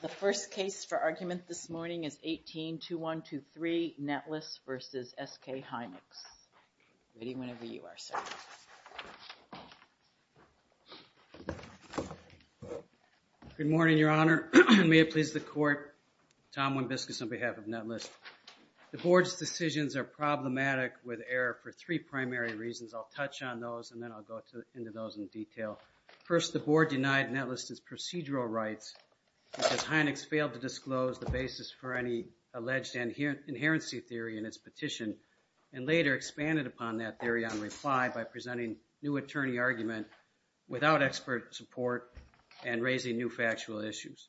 The first case for argument this morning is 18-2123, Netlist v. SK Hynix. Good morning, Your Honor. May it please the Court. Tom Wimbiscus on behalf of Netlist. The Board's decisions are problematic with error for three primary reasons. I'll touch on those and then I'll go into those in detail. First, the Board denied Netlist's procedural rights because Hynix failed to disclose the basis for any alleged inherency theory in its petition and later expanded upon that theory on reply by presenting new attorney argument without expert support and raising new factual issues.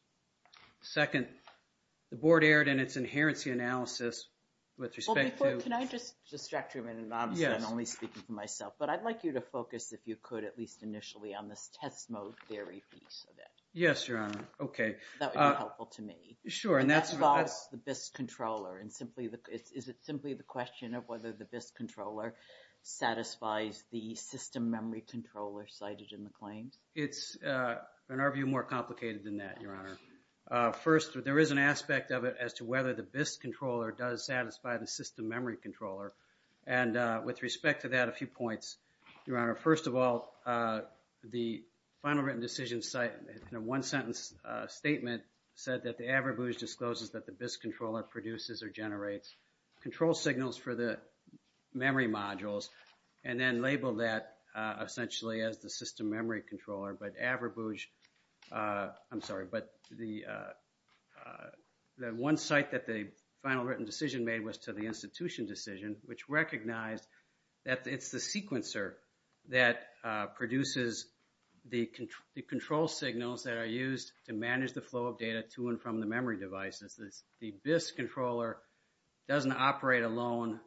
Second, the Board erred in its inherency analysis with respect to... on this test mode theory piece of it. Yes, Your Honor. Okay. That would be helpful to me. Sure, and that's... That bogs the BIS controller and simply the... Is it simply the question of whether the BIS controller satisfies the system memory controller cited in the claims? It's, in our view, more complicated than that, Your Honor. First, there is an aspect of it as to whether the BIS controller does satisfy the system memory controller. And with respect to that, a few points, Your Honor. First of all, the final written decision site in a one-sentence statement said that the Averbooz discloses that the BIS controller produces or generates control signals for the memory modules and then labeled that essentially as the system memory controller. But Averbooz... I'm sorry, but the one site that the final written decision made was to the institution decision, which recognized that it's the sequencer that produces the control signals that are used to manage the flow of data to and from the memory devices. The BIS controller doesn't operate alone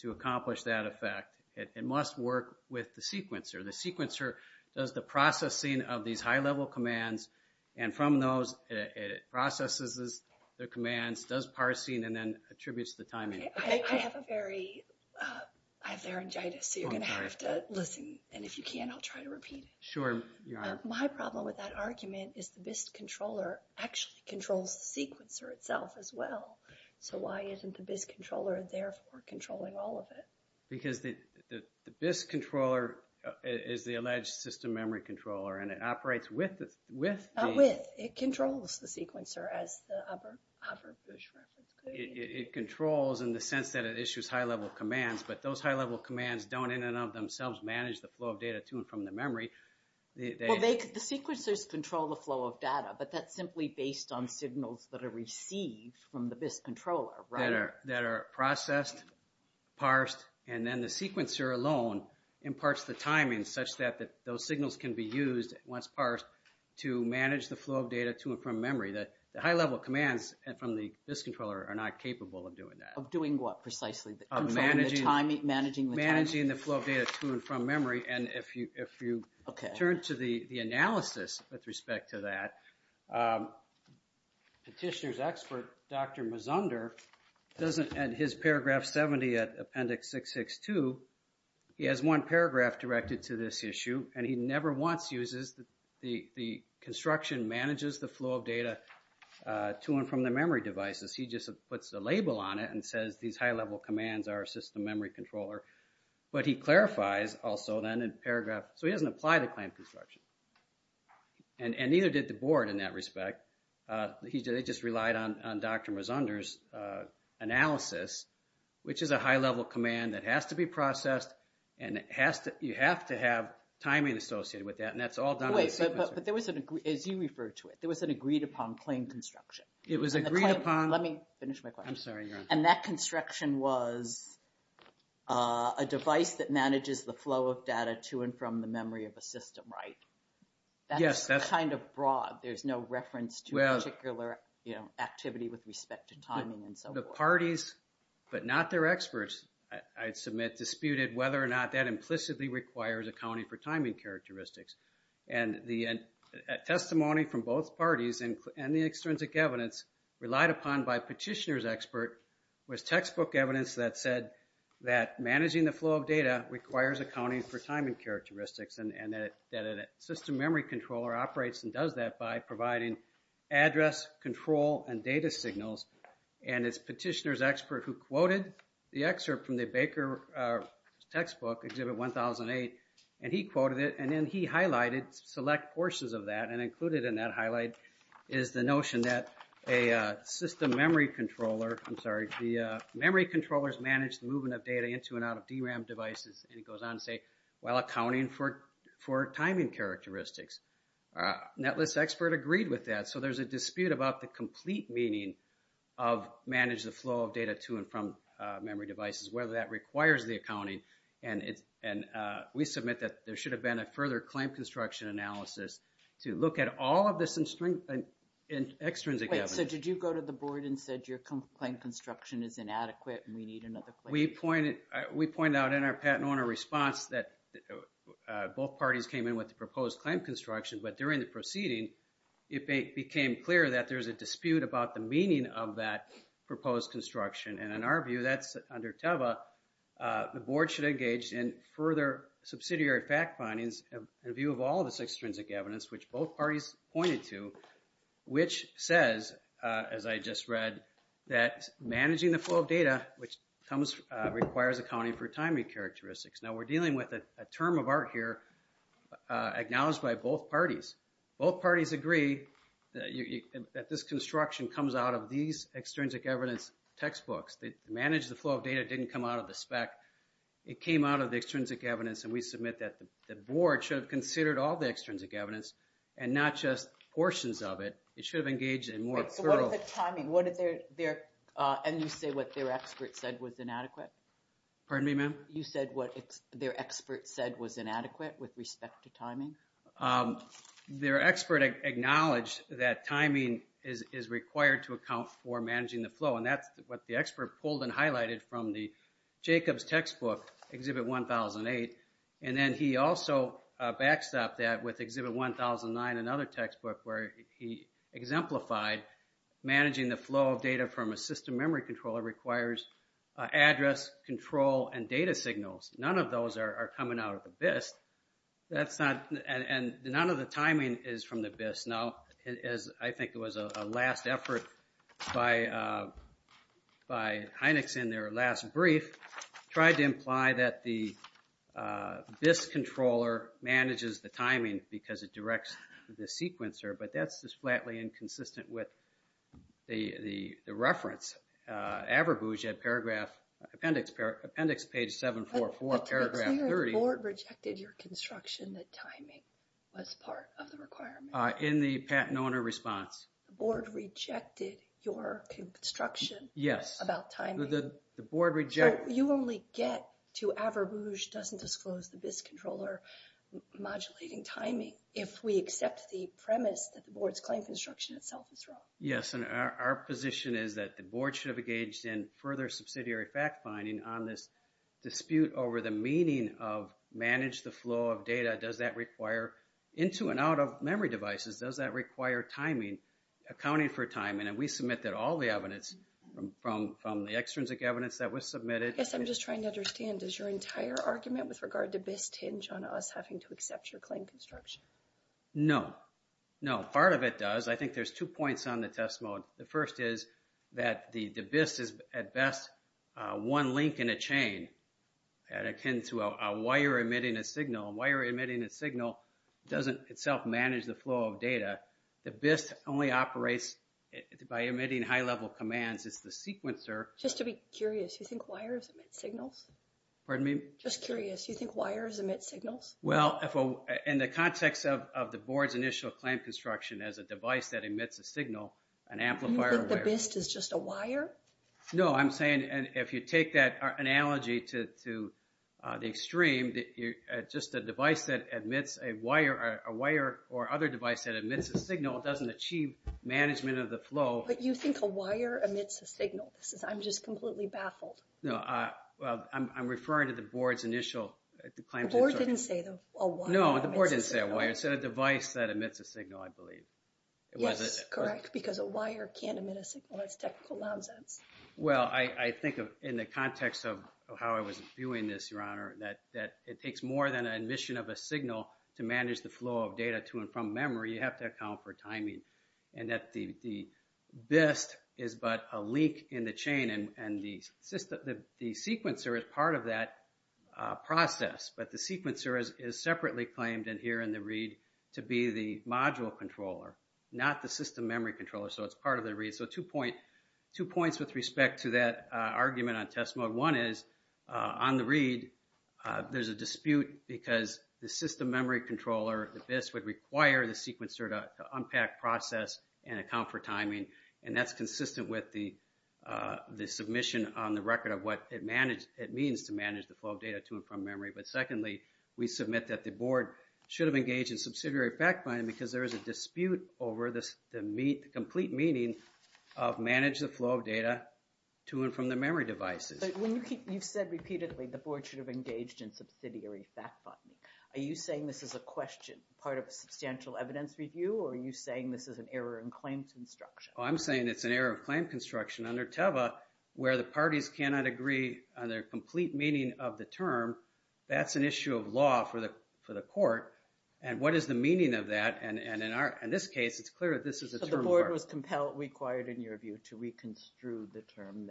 to accomplish that effect. It must work with the sequencer. The sequencer does the processing of these high-level commands. And from those, it processes the commands, does parsing, and then attributes the timing. I have a very... I have laryngitis, so you're going to have to listen. And if you can't, I'll try to repeat it. Sure, Your Honor. My problem with that argument is the BIS controller actually controls the sequencer itself as well. So why isn't the BIS controller therefore controlling all of it? Because the BIS controller is the alleged system memory controller, and it operates with the... It controls the sequencer as the Averbooz reference. It controls in the sense that it issues high-level commands, but those high-level commands don't in and of themselves manage the flow of data to and from the memory. Well, the sequencers control the flow of data, but that's simply based on signals that are received from the BIS controller, right? That are processed, parsed, and then the sequencer alone imparts the timing such that those signals can be used once parsed to manage the flow of data to and from memory. The high-level commands from the BIS controller are not capable of doing that. Of doing what precisely? Of managing the flow of data to and from memory. And if you turn to the analysis with respect to that, petitioner's expert, Dr. Mazunder, doesn't... In his paragraph 70 at Appendix 662, he has one paragraph directed to this issue, and he never once uses... The construction manages the flow of data to and from the memory devices. He just puts a label on it and says these high-level commands are a system memory controller. But he clarifies also then in paragraph... So he doesn't apply to claim construction. And neither did the board in that respect. They just relied on Dr. Mazunder's analysis, which is a high-level command that has to be processed, and you have to have timing associated with that. And that's all done by the sequencer. Wait, but there was an... As you referred to it, there was an agreed-upon claim construction. It was agreed upon... Let me finish my question. I'm sorry, you're on. And that construction was a device that manages the flow of data to and from the memory of a system, right? Yes, that's... That's kind of broad. There's no reference to a particular activity with respect to timing and so forth. The parties, but not their experts, I'd submit, disputed whether or not that implicitly requires accounting for timing characteristics. And the testimony from both parties and the extrinsic evidence relied upon by Petitioner's expert was textbook evidence that said that managing the flow of data requires accounting for timing characteristics. And that a system memory controller operates and does that by providing address, control, and data signals. And it's Petitioner's expert who quoted the excerpt from the Baker textbook, Exhibit 1008, and he quoted it, and then he highlighted select portions of that, and included in that highlight is the notion that a system memory controller... I'm sorry, the memory controllers manage the movement of data into and out of DRAM devices, and it goes on to say, while accounting for timing characteristics. Netlist's expert agreed with that, so there's a dispute about the complete meaning of manage the flow of data to and from memory devices, whether that requires the accounting. And we submit that there should have been a further claim construction analysis to look at all of this extrinsic evidence. Wait, so did you go to the board and said your claim construction is inadequate and we need another claim? We pointed out in our patent owner response that both parties came in with the proposed claim construction, but during the proceeding, it became clear that there's a dispute about the meaning of that proposed construction. And in our view, that's under TEVA, the board should engage in further subsidiary fact findings in view of all this extrinsic evidence, which both parties pointed to, which says, as I just read, that managing the flow of data, which requires accounting for timing characteristics. Now, we're dealing with a term of art here acknowledged by both parties. Both parties agree that this construction comes out of these extrinsic evidence textbooks. The manage the flow of data didn't come out of the spec. It came out of the extrinsic evidence, and we submit that the board should have considered all the extrinsic evidence and not just portions of it. It should have engaged in more thorough... Wait, so what is the timing? What is their... And you say what their expert said was inadequate? Pardon me, ma'am? You said what their expert said was inadequate with respect to timing? Their expert acknowledged that timing is required to account for managing the flow, and that's what the expert pulled and highlighted from the Jacobs textbook, Exhibit 1008. And then he also backstopped that with Exhibit 1009, another textbook, where he exemplified managing the flow of data from a system memory controller requires address, control, and data signals. None of those are coming out of the BIST. That's not... And none of the timing is from the BIST. No. I think it was a last effort by Heinecks in their last brief tried to imply that the BIST controller manages the timing because it directs the sequencer. But that's just flatly inconsistent with the reference. Averbooge at appendix page 744, paragraph 30... But clearly the board rejected your construction that timing was part of the requirement. In the patent owner response. The board rejected your construction about timing? Yes. The board rejected... So you only get to Averbooge doesn't disclose the BIST controller modulating timing if we accept the premise that the board's claim construction itself is wrong. Yes. And our position is that the board should have engaged in further subsidiary fact finding on this dispute over the meaning of manage the flow of data. Does that require into and out of memory devices? Does that require timing, accounting for timing? And we submitted all the evidence from the extrinsic evidence that was submitted. Yes. I'm just trying to understand. Does your entire argument with regard to BIST hinge on us having to accept your claim construction? No. No. Part of it does. I think there's two points on the test mode. The first is that the BIST is at best one link in a chain and akin to a wire emitting a signal. A wire emitting a signal doesn't itself manage the flow of data. The BIST only operates by emitting high-level commands. It's the sequencer... Just to be curious, you think wires emit signals? Pardon me? Just curious. You think wires emit signals? Well, in the context of the board's initial claim construction as a device that emits a signal, an amplifier... You think the BIST is just a wire? No. I'm saying if you take that analogy to the extreme, just a device that emits a wire or other device that emits a signal doesn't achieve management of the flow. But you think a wire emits a signal? I'm just completely baffled. No. I'm referring to the board's initial claim construction. The board didn't say a wire emits a signal. No, the board didn't say a wire. It said a device that emits a signal, I believe. Yes, correct, because a wire can't emit a signal. That's technical nonsense. Well, I think in the context of how I was viewing this, Your Honor, that it takes more than an emission of a signal to manage the flow of data to and from memory. You have to account for timing. And that the BIST is but a leak in the chain, and the sequencer is part of that process. But the sequencer is separately claimed in here in the read to be the module controller, not the system memory controller. So it's part of the read. So two points with respect to that argument on test mode. One is, on the read, there's a dispute because the system memory controller, the BIST, would require the sequencer to unpack process and account for timing. And that's consistent with the submission on the record of what it means to manage the flow of data to and from memory. But secondly, we submit that the board should have engaged in subsidiary fact-finding because there is a dispute over the complete meaning of manage the flow of data to and from the memory devices. You've said repeatedly the board should have engaged in subsidiary fact-finding. Are you saying this is a question, part of a substantial evidence review? Or are you saying this is an error in claim construction? I'm saying it's an error of claim construction under TEVA where the parties cannot agree on their complete meaning of the term. That's an issue of law for the court. And what is the meaning of that? And in this case, it's clear that this is a term of argument. The board was compelled, required, in your view, to reconstrue the term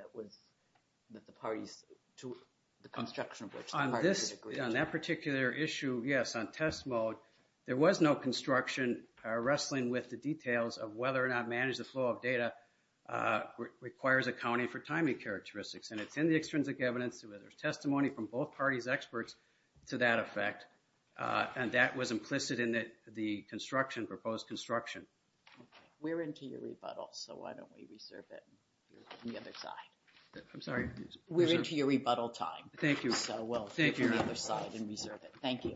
that the parties, the construction of which the parties agreed to. On that particular issue, yes, on test mode, there was no construction wrestling with the details of whether or not manage the flow of data requires accounting for timing characteristics. And it's in the extrinsic evidence. There's testimony from both parties' experts to that effect. And that was implicit in the construction, proposed construction. Okay. We're into your rebuttal, so why don't we reserve it on the other side? I'm sorry? We're into your rebuttal time. Thank you. So we'll take it to the other side and reserve it. Thank you.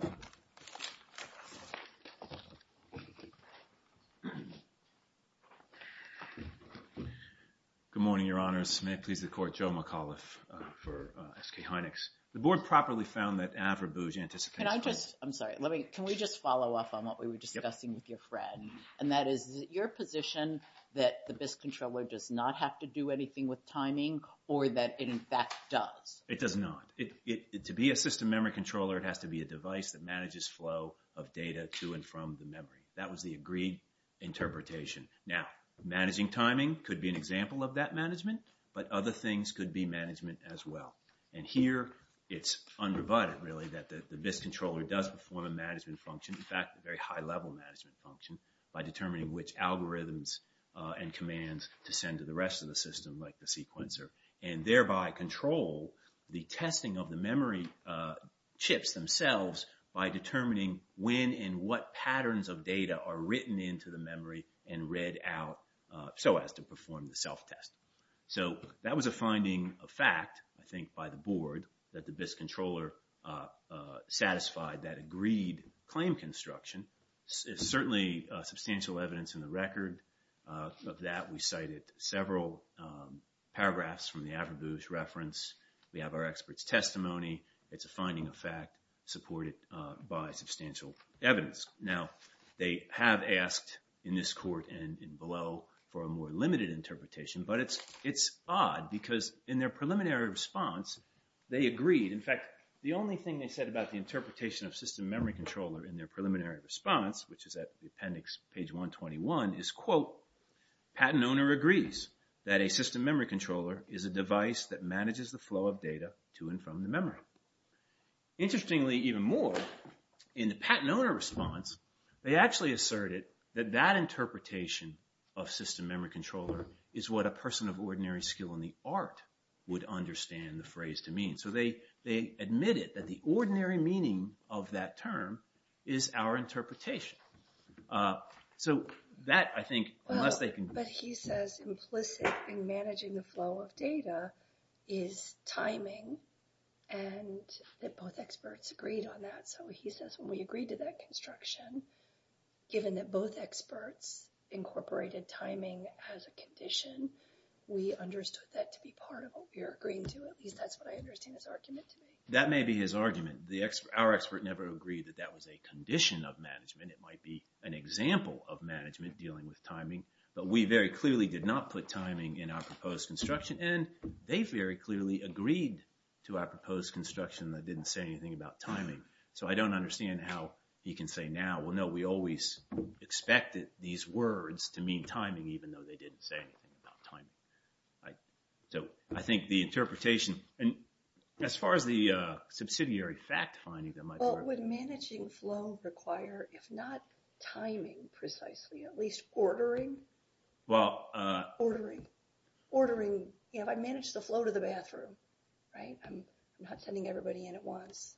Good morning, Your Honors. May it please the court, Joe McAuliffe for SK Heinex. The board properly found that Avra Booz, the anticipated- Can I just, I'm sorry, let me, can we just follow up on what we were discussing with your friend? And that is, is it your position that the VIST controller does not have to do anything with timing or that it, in fact, does? It does not. To be a system memory controller, it has to be a device that manages flow of data to and from the memory. That was the agreed interpretation. Now, managing timing could be an example of that management, but other things could be management as well. And here, it's unrebutted, really, that the VIST controller does perform a management function, in fact, a very high-level management function, by determining which algorithms and commands to send to the rest of the system, like the sequencer, and thereby control the testing of the memory chips themselves by determining when and what patterns of data are written into the memory and read out so as to perform the self-test. So, that was a finding of fact, I think, by the board, that the VIST controller satisfied that agreed claim construction. It's certainly substantial evidence in the record of that. We cited several paragraphs from the Avrabou's reference. We have our expert's testimony. It's a finding of fact supported by substantial evidence. Now, they have asked in this court and below for a more limited interpretation, but it's odd because in their preliminary response, they agreed. In fact, the only thing they said about the interpretation of system memory controller in their preliminary response, which is at the appendix, page 121, is, quote, patent owner agrees that a system memory controller is a device that manages the flow of data to and from the memory. Interestingly, even more, in the patent owner response, they actually asserted that that interpretation of system memory controller is what a person of ordinary skill in the art would understand the phrase to mean. So, they admitted that the ordinary meaning of that term is our interpretation. So, that, I think, unless they can... But he says implicit in managing the flow of data is timing and that both experts agreed on that. So, he says when we agreed to that construction, given that both experts incorporated timing as a condition, we understood that to be part of what we were agreeing to. At least that's what I understand his argument to be. That may be his argument. Our expert never agreed that that was a condition of management. It might be an example of management dealing with timing. But we very clearly did not put timing in our proposed construction. And they very clearly agreed to our proposed construction that didn't say anything about timing. So, I don't understand how he can say now, well, no, we always expected these words to mean timing, even though they didn't say anything about timing. So, I think the interpretation, and as far as the subsidiary fact finding that might work... Well, would managing flow require, if not timing precisely, at least ordering? Well... Ordering. Ordering, you know, if I manage the flow to the bathroom, right? I'm not sending everybody in at once.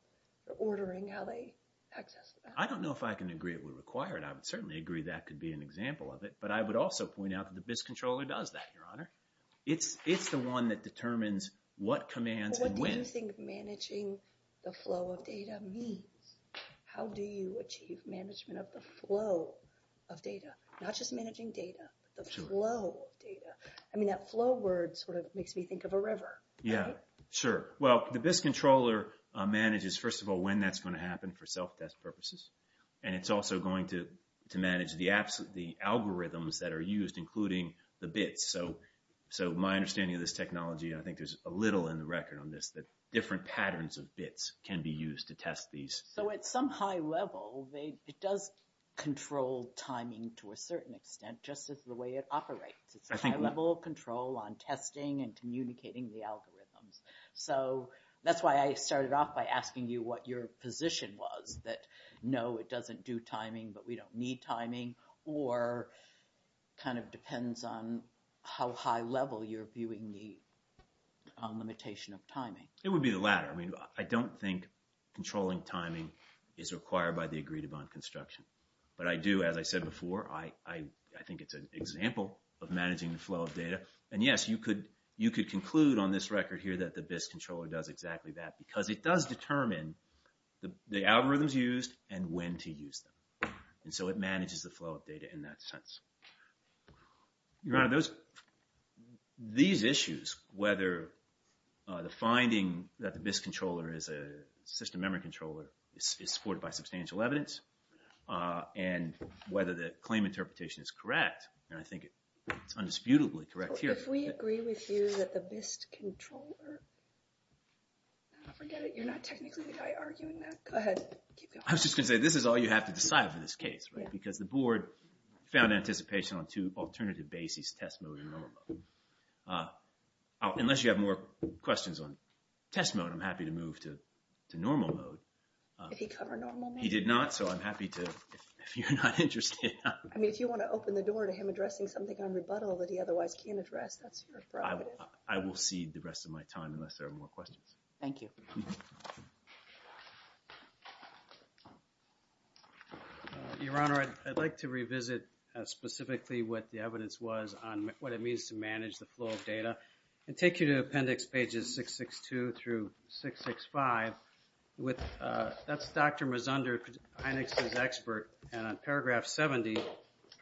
They're ordering how they access the bathroom. I don't know if I can agree it would require it. I would certainly agree that could be an example of it. But I would also point out that the BIS controller does that, Your Honor. It's the one that determines what commands and when. What do you think managing the flow of data means? How do you achieve management of the flow of data? Not just managing data, but the flow of data. I mean, that flow word sort of makes me think of a river. Yeah, sure. Well, the BIS controller manages, first of all, when that's going to happen for self-test purposes. And it's also going to manage the algorithms that are used, including the bits. So my understanding of this technology, and I think there's a little in the record on this, that different patterns of bits can be used to test these. So at some high level, it does control timing to a certain extent, just as the way it operates. It's a high level of control on testing and communicating the algorithms. So that's why I started off by asking you what your position was, that no, it doesn't do timing, but we don't need timing, or kind of depends on how high level you're viewing the limitation of timing. It would be the latter. I mean, I don't think controlling timing is required by the agreed-upon construction. But I do, as I said before, I think it's an example of managing the flow of data. And yes, you could conclude on this record here that the BIS controller does exactly that, because it does determine the algorithms used and when to use them. And so it manages the flow of data in that sense. These issues, whether the finding that the BIS controller is a system memory controller, is supported by substantial evidence, and whether the claim interpretation is correct, and I think it's undisputably correct here. If we agree with you that the BIS controller... Forget it, you're not technically the guy arguing that. Go ahead, keep going. I was just going to say, this is all you have to decide for this case, right? Because the board found anticipation on two alternative bases, test mode and normal mode. Unless you have more questions on test mode, I'm happy to move to normal mode. Did he cover normal mode? He did not, so I'm happy to, if you're not interested. I mean, if you want to open the door to him addressing something on rebuttal that he otherwise can't address, that's your problem. I will cede the rest of my time unless there are more questions. Thank you. Your Honor, I'd like to revisit specifically what the evidence was on what it means to manage the flow of data and take you to Appendix Pages 662 through 665. That's Dr. Mazunder, INEX's expert. And on Paragraph 70,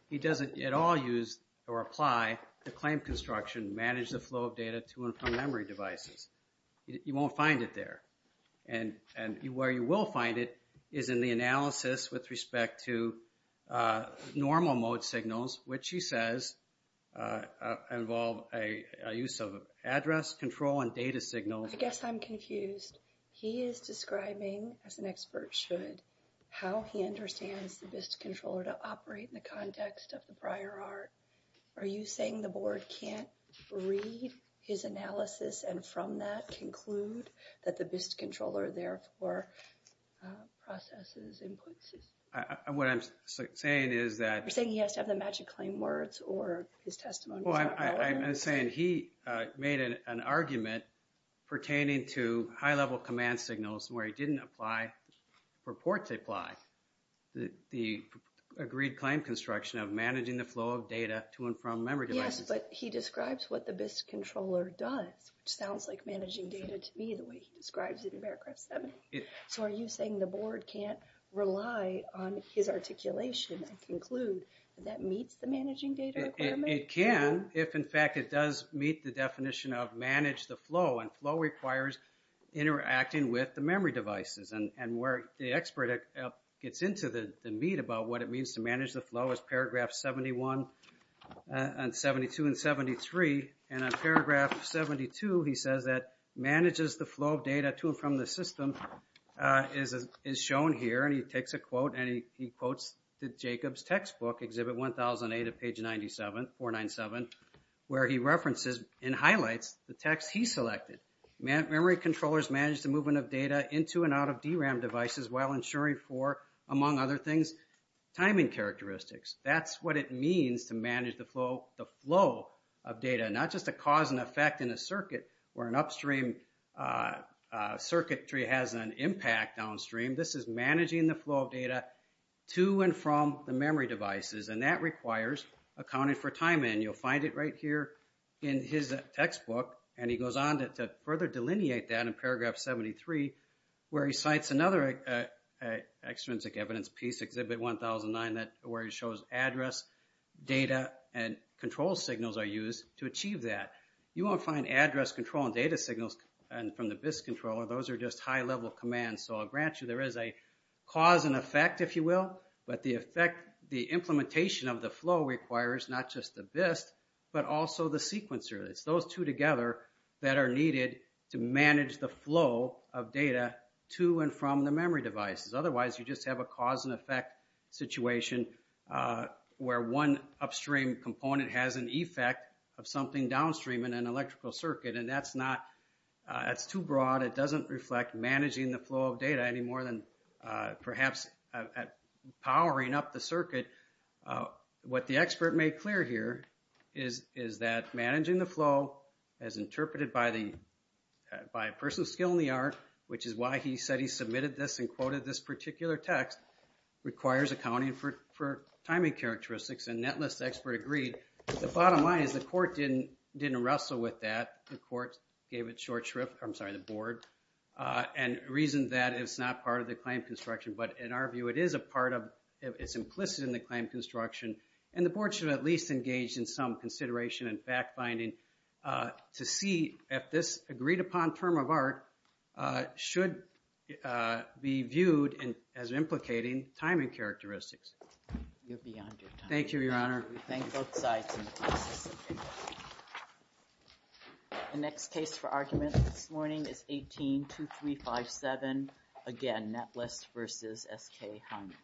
he doesn't at all use or apply the claim construction, manage the flow of data to and from memory devices. You won't find it there. And where you will find it is in the analysis with respect to normal mode signals, which he says involve a use of address control and data signals. I guess I'm confused. He is describing, as an expert should, how he understands the BIST controller to operate in the context of the prior art. Are you saying the Board can't read his analysis and from that conclude that the BIST controller therefore processes inputs? What I'm saying is that... You're saying he has to have the magic claim words or his testimony. I'm saying he made an argument pertaining to high-level command signals where he didn't apply, purport to apply, the agreed claim construction of managing the flow of data to and from memory devices. Yes, but he describes what the BIST controller does, which sounds like managing data to me the way he describes it in Paragraph 70. So are you saying the Board can't rely on his articulation and conclude that that meets the managing data requirement? It can if, in fact, it does meet the definition of manage the flow. And flow requires interacting with the memory devices. And where the expert gets into the meat about what it means to manage the flow is Paragraph 71 and 72 and 73. And on Paragraph 72, he says that manages the flow of data to and from the system is shown here. And he takes a quote and he quotes Jacob's textbook, Exhibit 1008 of page 497, where he references and highlights the text he selected. Memory controllers manage the movement of data into and out of DRAM devices while ensuring for, among other things, timing characteristics. That's what it means to manage the flow of data, not just a cause and effect in a circuit where an upstream circuitry has an impact downstream. This is managing the flow of data to and from the memory devices. And that requires accounting for timing. You'll find it right here in his textbook. And he goes on to further delineate that in Paragraph 73 where he cites another extrinsic evidence piece, Exhibit 1009, where he shows address, data, and control signals are used to achieve that. You won't find address control and data signals from the BIS controller. Those are just high-level commands. So I'll grant you there is a cause and effect, if you will, but the implementation of the flow requires not just the BIS, but also the sequencer. It's those two together that are needed to manage the flow of data to and from the memory devices. Otherwise, you just have a cause and effect situation where one upstream component has an effect of something downstream in an electrical circuit, and that's too broad. It doesn't reflect managing the flow of data any more than perhaps powering up the circuit. What the expert made clear here is that managing the flow as interpreted by a person of skill in the art, which is why he said he submitted this and quoted this particular text, requires accounting for timing characteristics. And that list expert agreed. The bottom line is the court didn't wrestle with that. The court gave it short shrift, I'm sorry, the board, and reasoned that it's not part of the claim construction. But in our view, it is a part of, it's implicit in the claim construction, and the board should at least engage in some consideration and fact-finding to see if this agreed-upon term of art should be viewed as implicating timing characteristics. You're beyond your time. Thank you, Your Honor. The next case for argument this morning is 18-2357. Again, Natlass versus S.K. Hyman.